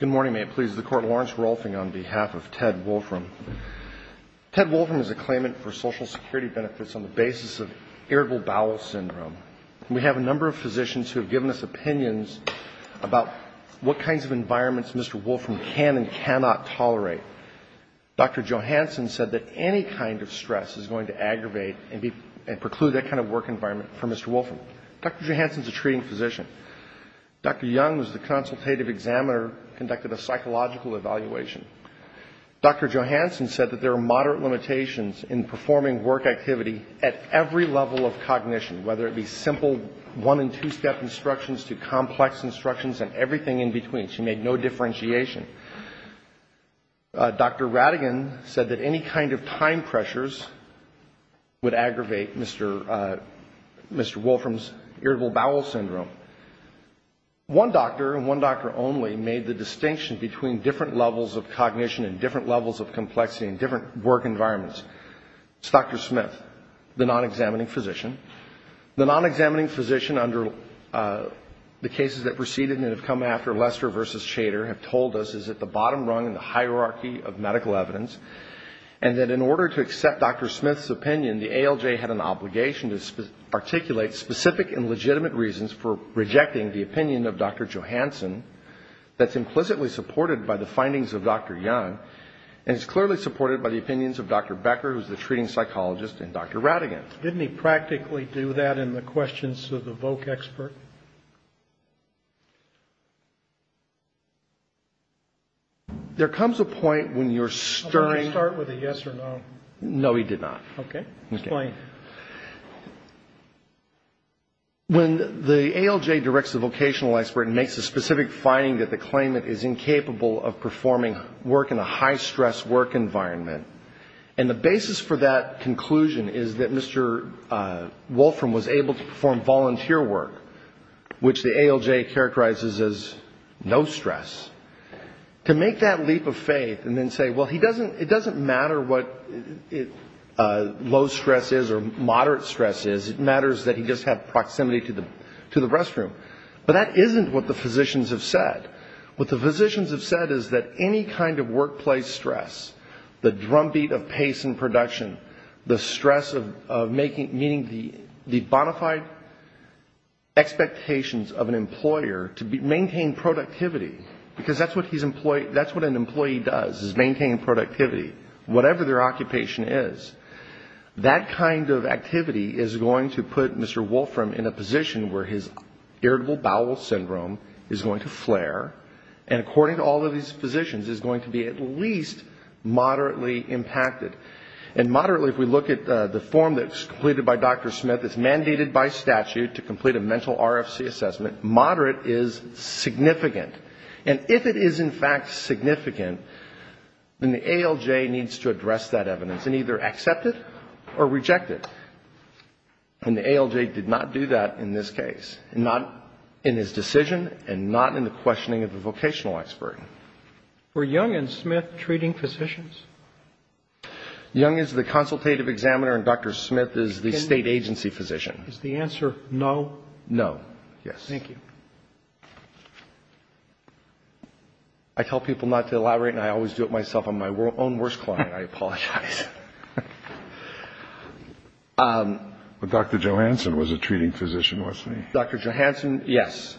Good morning. May it please the Court, Lawrence Rolfing on behalf of Ted Wolfram. Ted Wolfram is a claimant for Social Security benefits on the basis of irritable bowel syndrome. We have a number of physicians who have given us opinions about what kinds of environments Mr. Wolfram can and cannot tolerate. Dr. Johansson said that any kind of stress is going to aggravate and preclude that kind of work environment for Mr. Wolfram. Dr. Johansson is a treating examiner who conducted a psychological evaluation. Dr. Johansson said that there are moderate limitations in performing work activity at every level of cognition, whether it be simple one- and two-step instructions to complex instructions and everything in between. She made no differentiation. Dr. Rattigan said that any kind of time pressures would aggravate Mr. Wolfram's irritable bowel syndrome. One doctor, and one doctor only, made the distinction between different levels of cognition and different levels of complexity in different work environments. It's Dr. Smith, the non-examining physician. The non-examining physician under the cases that preceded and that have come after Lester v. Shader have told us is at the bottom rung in the hierarchy of medical obligation to articulate specific and legitimate reasons for rejecting the opinion of Dr. Johansson that's implicitly supported by the findings of Dr. Young, and is clearly supported by the opinions of Dr. Becker, who's the treating psychologist, and Dr. Rattigan. Didn't he practically do that in the questions to the Vochexpert? There comes a point when you're stirring... Did he start with a yes or no? No, he did not. Okay. Explain. When the ALJ directs the vocational expert and makes a specific finding that the claimant is incapable of performing work in a high-stress work environment, and the basis for that conclusion is that Mr. Wolfram was able to perform volunteer work, which the ALJ characterizes as no stress, to make that leap of faith and then say, well, it doesn't matter what low stress is or moderate stress is, it matters that he just had proximity to the restroom, but that isn't what the physicians have said. What the physicians have said is that any kind of workplace stress, the drumbeat of pace and production, the stress of meeting the bona fide expectations of an employer to maintain productivity, because that's what an employee does, is maintain productivity, whatever their occupation is, that kind of activity is going to put Mr. Wolfram in a position where his irritable bowel syndrome is going to flare, and according to all of these physicians, is going to be at least moderately impacted. And moderately, if we look at the form that's completed by Dr. Smith, it's mandated by statute to complete a mental RFC assessment, moderate is significant, and if it is in fact significant, then the ALJ needs to address that evidence and either accept it or reject it, and the ALJ did not do that in this case, not in his decision and not in the questioning of the vocational expert. Were Young and Smith treating physicians? Young is the consultative examiner and Dr. Smith is the state agency physician. Is the answer no? No. Yes. Thank you. I tell people not to elaborate and I always do it myself. I'm my own worst client. I apologize. But Dr. Johansson was a treating physician, wasn't he? Dr. Johansson, yes.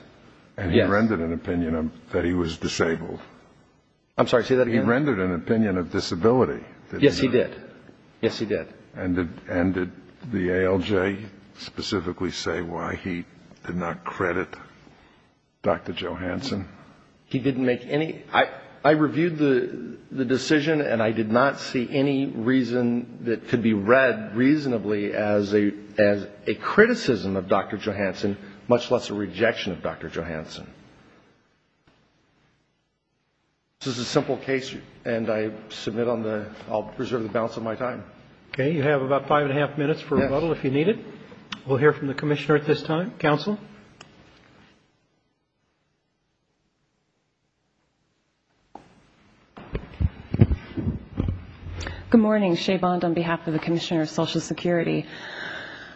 And he rendered an opinion that he was disabled. I'm sorry, say that again. He rendered an opinion of disability. Yes, he did. Yes, he did. And did the ALJ specifically say why he did not credit Dr. Johansson? He didn't make any. I reviewed the decision and I did not see any reason that could be read reasonably as a criticism of Dr. Johansson, much less a rejection of Dr. Johansson. This is a simple case and I submit on the, I'll preserve the balance of my time. Okay, you have about five and a half minutes for rebuttal if you need it. Yes. We'll hear from the commissioner at this time. Counsel? Good morning. Shea Bond on behalf of the Commissioner of Social Security.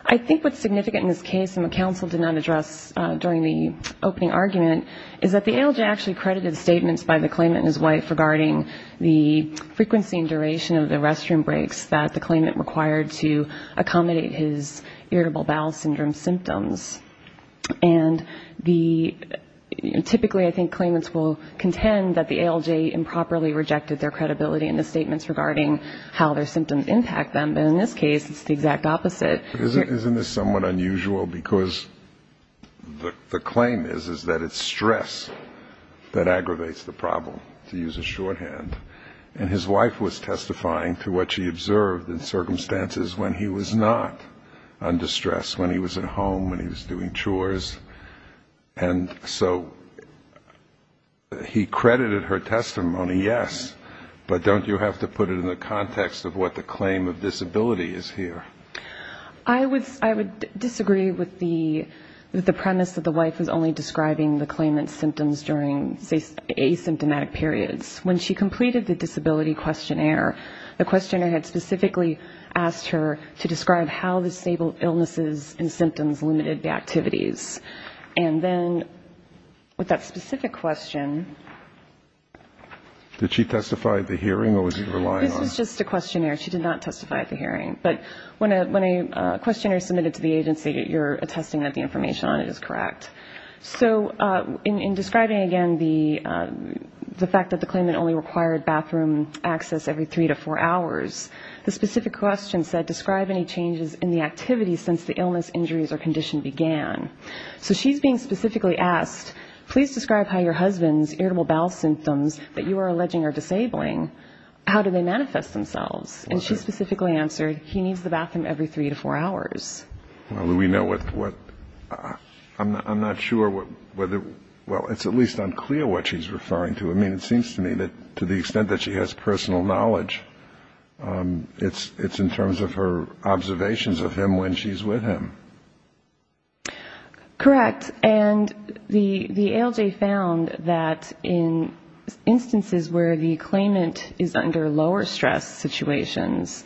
I think what's significant in this case and what counsel did not address during the opening argument is that the ALJ actually credited statements by the claimant and his wife regarding the frequency and duration of the restroom breaks that the claimant required to accommodate his irritable bowel syndrome symptoms. And the, typically I think claimants will contend that the ALJ improperly rejected their credibility in the statements regarding how their symptoms impact them. But in this case, it's the exact opposite. Isn't this somewhat unusual? Because the claim is that it's stress that aggravates the problem, to use a shorthand. And his wife was testifying to what she observed in circumstances when he was not under stress, when he was at home, when he was doing chores. And so he credited her testimony, yes. But don't you have to put it in the context of what the claim of disability is here? I would disagree with the premise that the wife was only describing the claimant's symptoms during, say, asymptomatic periods. When she completed the disability questionnaire, the questionnaire had specifically asked her to describe how the stable illnesses and symptoms limited the activities. And then with that specific question... Did she testify at the hearing or was it relying on... She did not testify at the hearing. But when a questionnaire is submitted to the agency, you're attesting that the information on it is correct. So in describing, again, the fact that the claimant only required bathroom access every three to four hours, the specific question said, describe any changes in the activities since the illness, injuries or condition began. So she's being specifically asked, please describe how your husband's irritable bowel symptoms that you are alleging are disabling. How do they manifest themselves? And she specifically answered, he needs the bathroom every three to four hours. Well, we know what... I'm not sure whether... Well, it's at least unclear what she's referring to. I mean, it seems to me that to the extent that she has personal knowledge, it's in terms of her observations of him when she's with him. Correct. And the ALJ found that in instances where the claimant is under lower stress situations,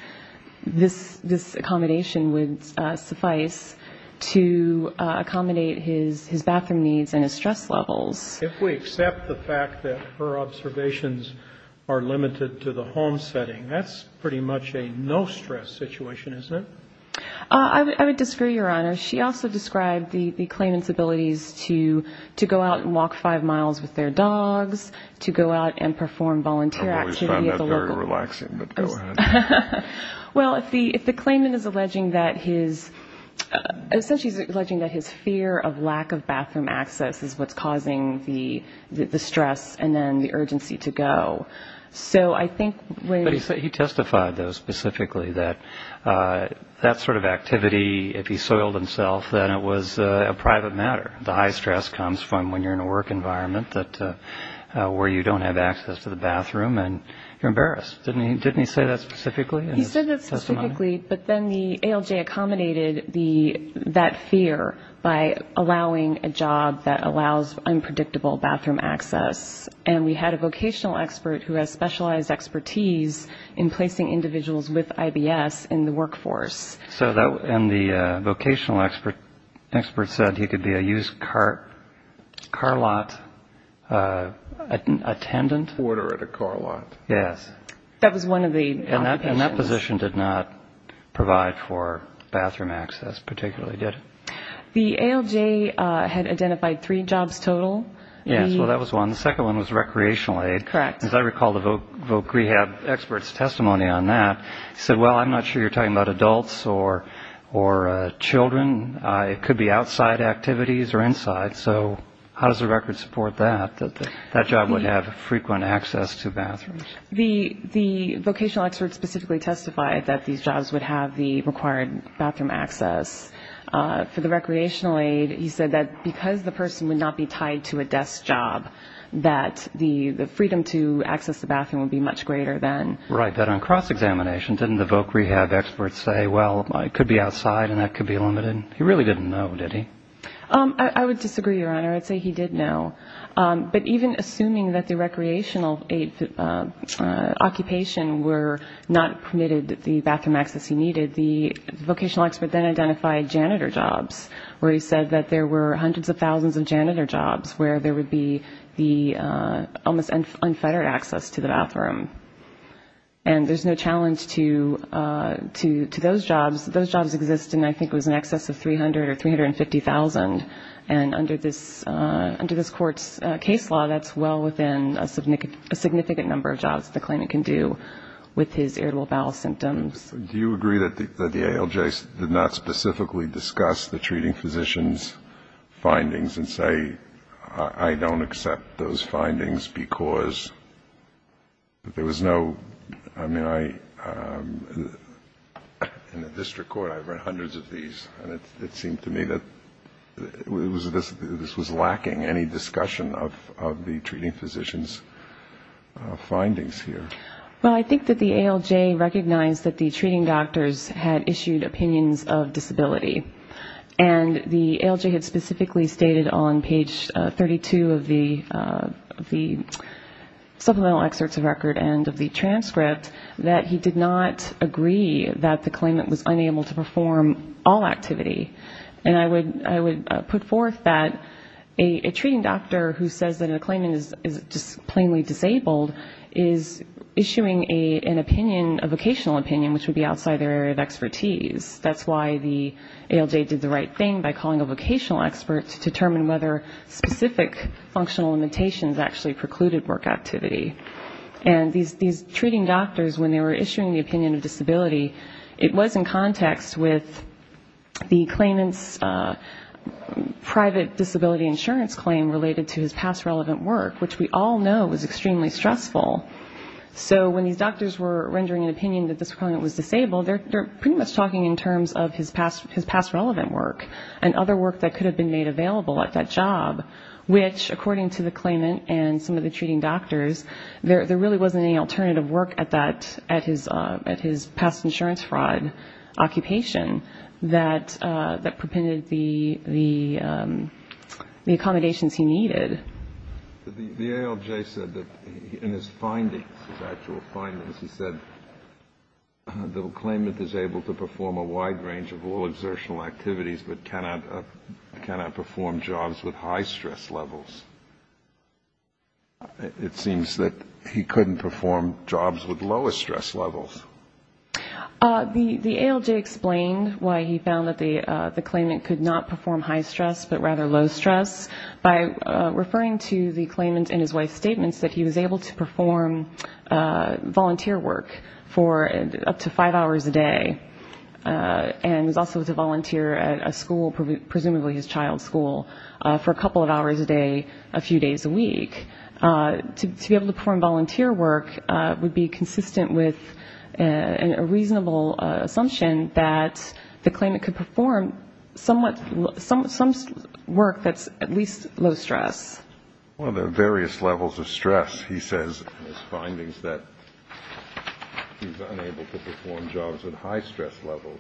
this accommodation would suffice to accommodate his bathroom needs and his stress levels. If we accept the fact that her observations are limited to the home setting, that's pretty much a no-stress situation, isn't it? I would disagree, Your Honor. She also described the claimant's abilities to go out and walk five miles with their dogs, to go out and perform volunteer activity at the local... I always find that very relaxing, but go ahead. Well, if the claimant is alleging that his... Essentially, he's alleging that his fear of lack of bathroom access is what's causing the stress and then the urgency to go. So I think... But he testified, though, specifically that that sort of activity, if he soiled himself, that it was a private matter. The high stress comes from when you're in a work environment where you don't have access to the bathroom and you're embarrassed. Didn't he say that specifically in his testimony? He said that specifically, but then the ALJ accommodated that fear by allowing a job that allows unpredictable bathroom access. And we had a vocational expert who has specialized expertise in placing individuals with IBS in the workforce. So that... And the vocational expert said he could be a used car lot attendant? Order at a car lot. Yes. That was one of the... And that position did not provide for bathroom access particularly, did it? The ALJ had identified three jobs total. Yes, well, that was one. The second one was recreational aid. Correct. As I recall, the voc rehab expert's testimony on that said, well, I'm not sure you're talking about adults or children. It could be outside activities or inside. So how does the record support that, that that job would have frequent access to bathrooms? The vocational expert specifically testified that these jobs would have the required bathroom access. For the recreational aid, he said that because the person would not be tied to a desk job, that the freedom to access the bathroom would be much greater than... Right. But on cross-examination, didn't the voc rehab expert say, well, it could be outside and that could be limited? He really didn't know, did he? I would disagree, Your Honor. I'd say he did know. But even assuming that the recreational aid occupation were not permitted the bathroom access he needed, the vocational expert then identified janitor jobs where he said that there were hundreds of thousands of janitor jobs where there would be the almost unfettered access to the bathroom. And there's no challenge to those jobs. Those jobs exist in, I think it was in excess of 300 or 350,000. And under this court's case law, that's well within a significant number of jobs the claimant can do with his irritable bowel symptoms. Do you agree that the ALJ did not specifically discuss the treating physician's findings and say, I don't accept those findings because there was no, I mean, in the district court I've read hundreds of these and it seemed to me that this was lacking any discussion of the treating physician's findings here? Well, I think that the ALJ recognized that the treating doctors had issued opinions of disability. And the ALJ had specifically stated on page 32 of the supplemental excerpts of record and of the transcript that he did not agree that the claimant was unable to perform all activity. And I would put forth that a treating doctor who says that a claimant is just plainly disabled is issuing an opinion, a vocational opinion, which would be outside their area of expertise. That's why the ALJ did the right thing by calling a vocational expert to determine whether specific functional limitations actually precluded work activity. And these treating doctors, when they were issuing the opinion of disability, it was in context with the claimant's private disability insurance claim related to his past relevant work, which we all know was extremely stressful. So when these doctors were rendering an opinion that this claimant was disabled, they're pretty much talking in terms of his past relevant work and other work that could have been made available at that job, which, according to the claimant and some of the treating doctors, there really wasn't any alternative work at his past insurance fraud occupation that prevented the accommodations he needed. The ALJ said that in his findings, his actual findings, he said the claimant is able to perform a wide range of all exertional activities but cannot perform jobs with high stress levels. It seems that he couldn't perform jobs with lower stress levels. The ALJ explained why he found that the claimant could not perform high stress but rather low stress by referring to the claimant and his wife's statements that he was able to perform volunteer work for up to five hours a day and was also able to volunteer at a school, presumably his child's school, for a couple of hours a day, a few days a week. To be able to perform volunteer work would be consistent with a reasonable assumption that the claimant could perform some work that's at least low stress. Well, there are various levels of stress. He says in his findings that he's unable to perform jobs with high stress levels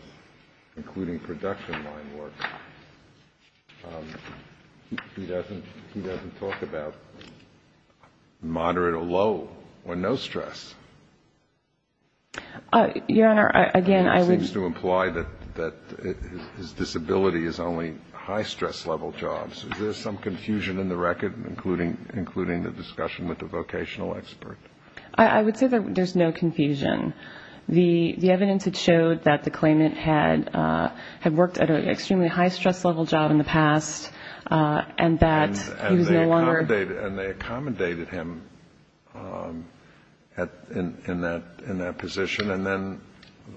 including production line work. He doesn't talk about moderate or low or no stress. Your Honor, again, I would say that his disability is only high stress level jobs. Is there some confusion in the record including the discussion with the vocational expert? I would say that there's no confusion. The evidence had showed that the claimant had worked at an extremely high stress level job in the past and that he was no longer... And they accommodated him in that position and then,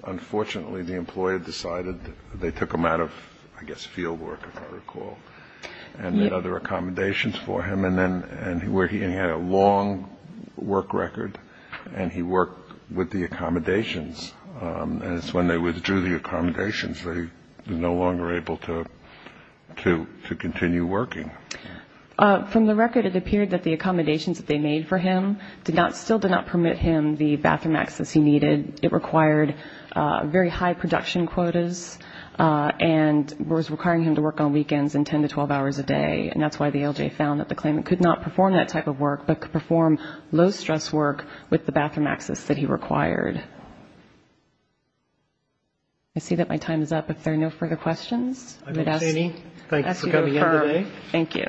unfortunately, the employer decided they took him out of, I guess, field work, if I recall and made other accommodations for him where he had a long work record and he worked with the accommodations and it's when they withdrew the accommodations that he was no longer able to continue working. From the record, it appeared that the accommodations that they made for him still did not permit him the bathroom access he needed. It required very high production quotas and was requiring him to work on weekends and 10 to 12 hours a day and that's why the ALJ found that the claimant could not perform that type of work but could perform low stress work with the bathroom access that he required. I see that my time is up. If there are no further questions, I would ask you to confirm. Thank you.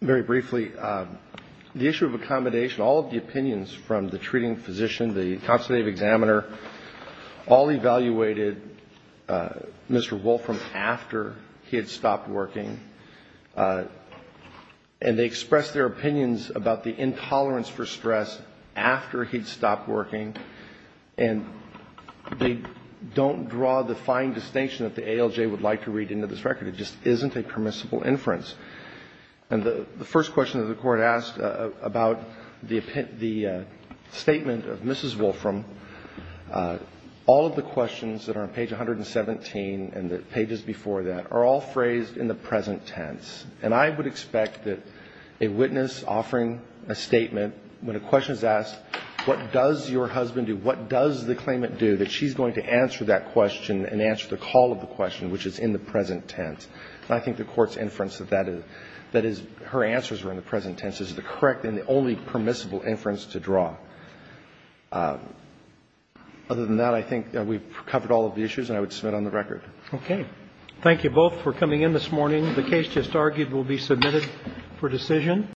Very briefly, the issue of accommodation, all of the opinions from the treating physician, the constitutive examiner all evaluated Mr. Wolfram after he had stopped working and they expressed their opinions about the intolerance for stress after he'd stopped working and they don't draw the fine distinction that the ALJ would like to read into this record. It just isn't a permissible inference. And the first question that the Court asked about the statement of Mrs. Wolfram, all of the questions that are on page 117 and the pages before that are all phrased in the present tense and I would expect that a witness offering a statement when a question is asked what does your husband do, what does the claimant do that she's going to answer that question and answer the call of the question which is in the present tense and I think the Court's inference that her answers are in the present tense is the correct and the only permissible inference to draw. Other than that, I think we've covered all of the issues and I would submit on the record. Thank you both for coming in this morning. The case just argued will be submitted for decision.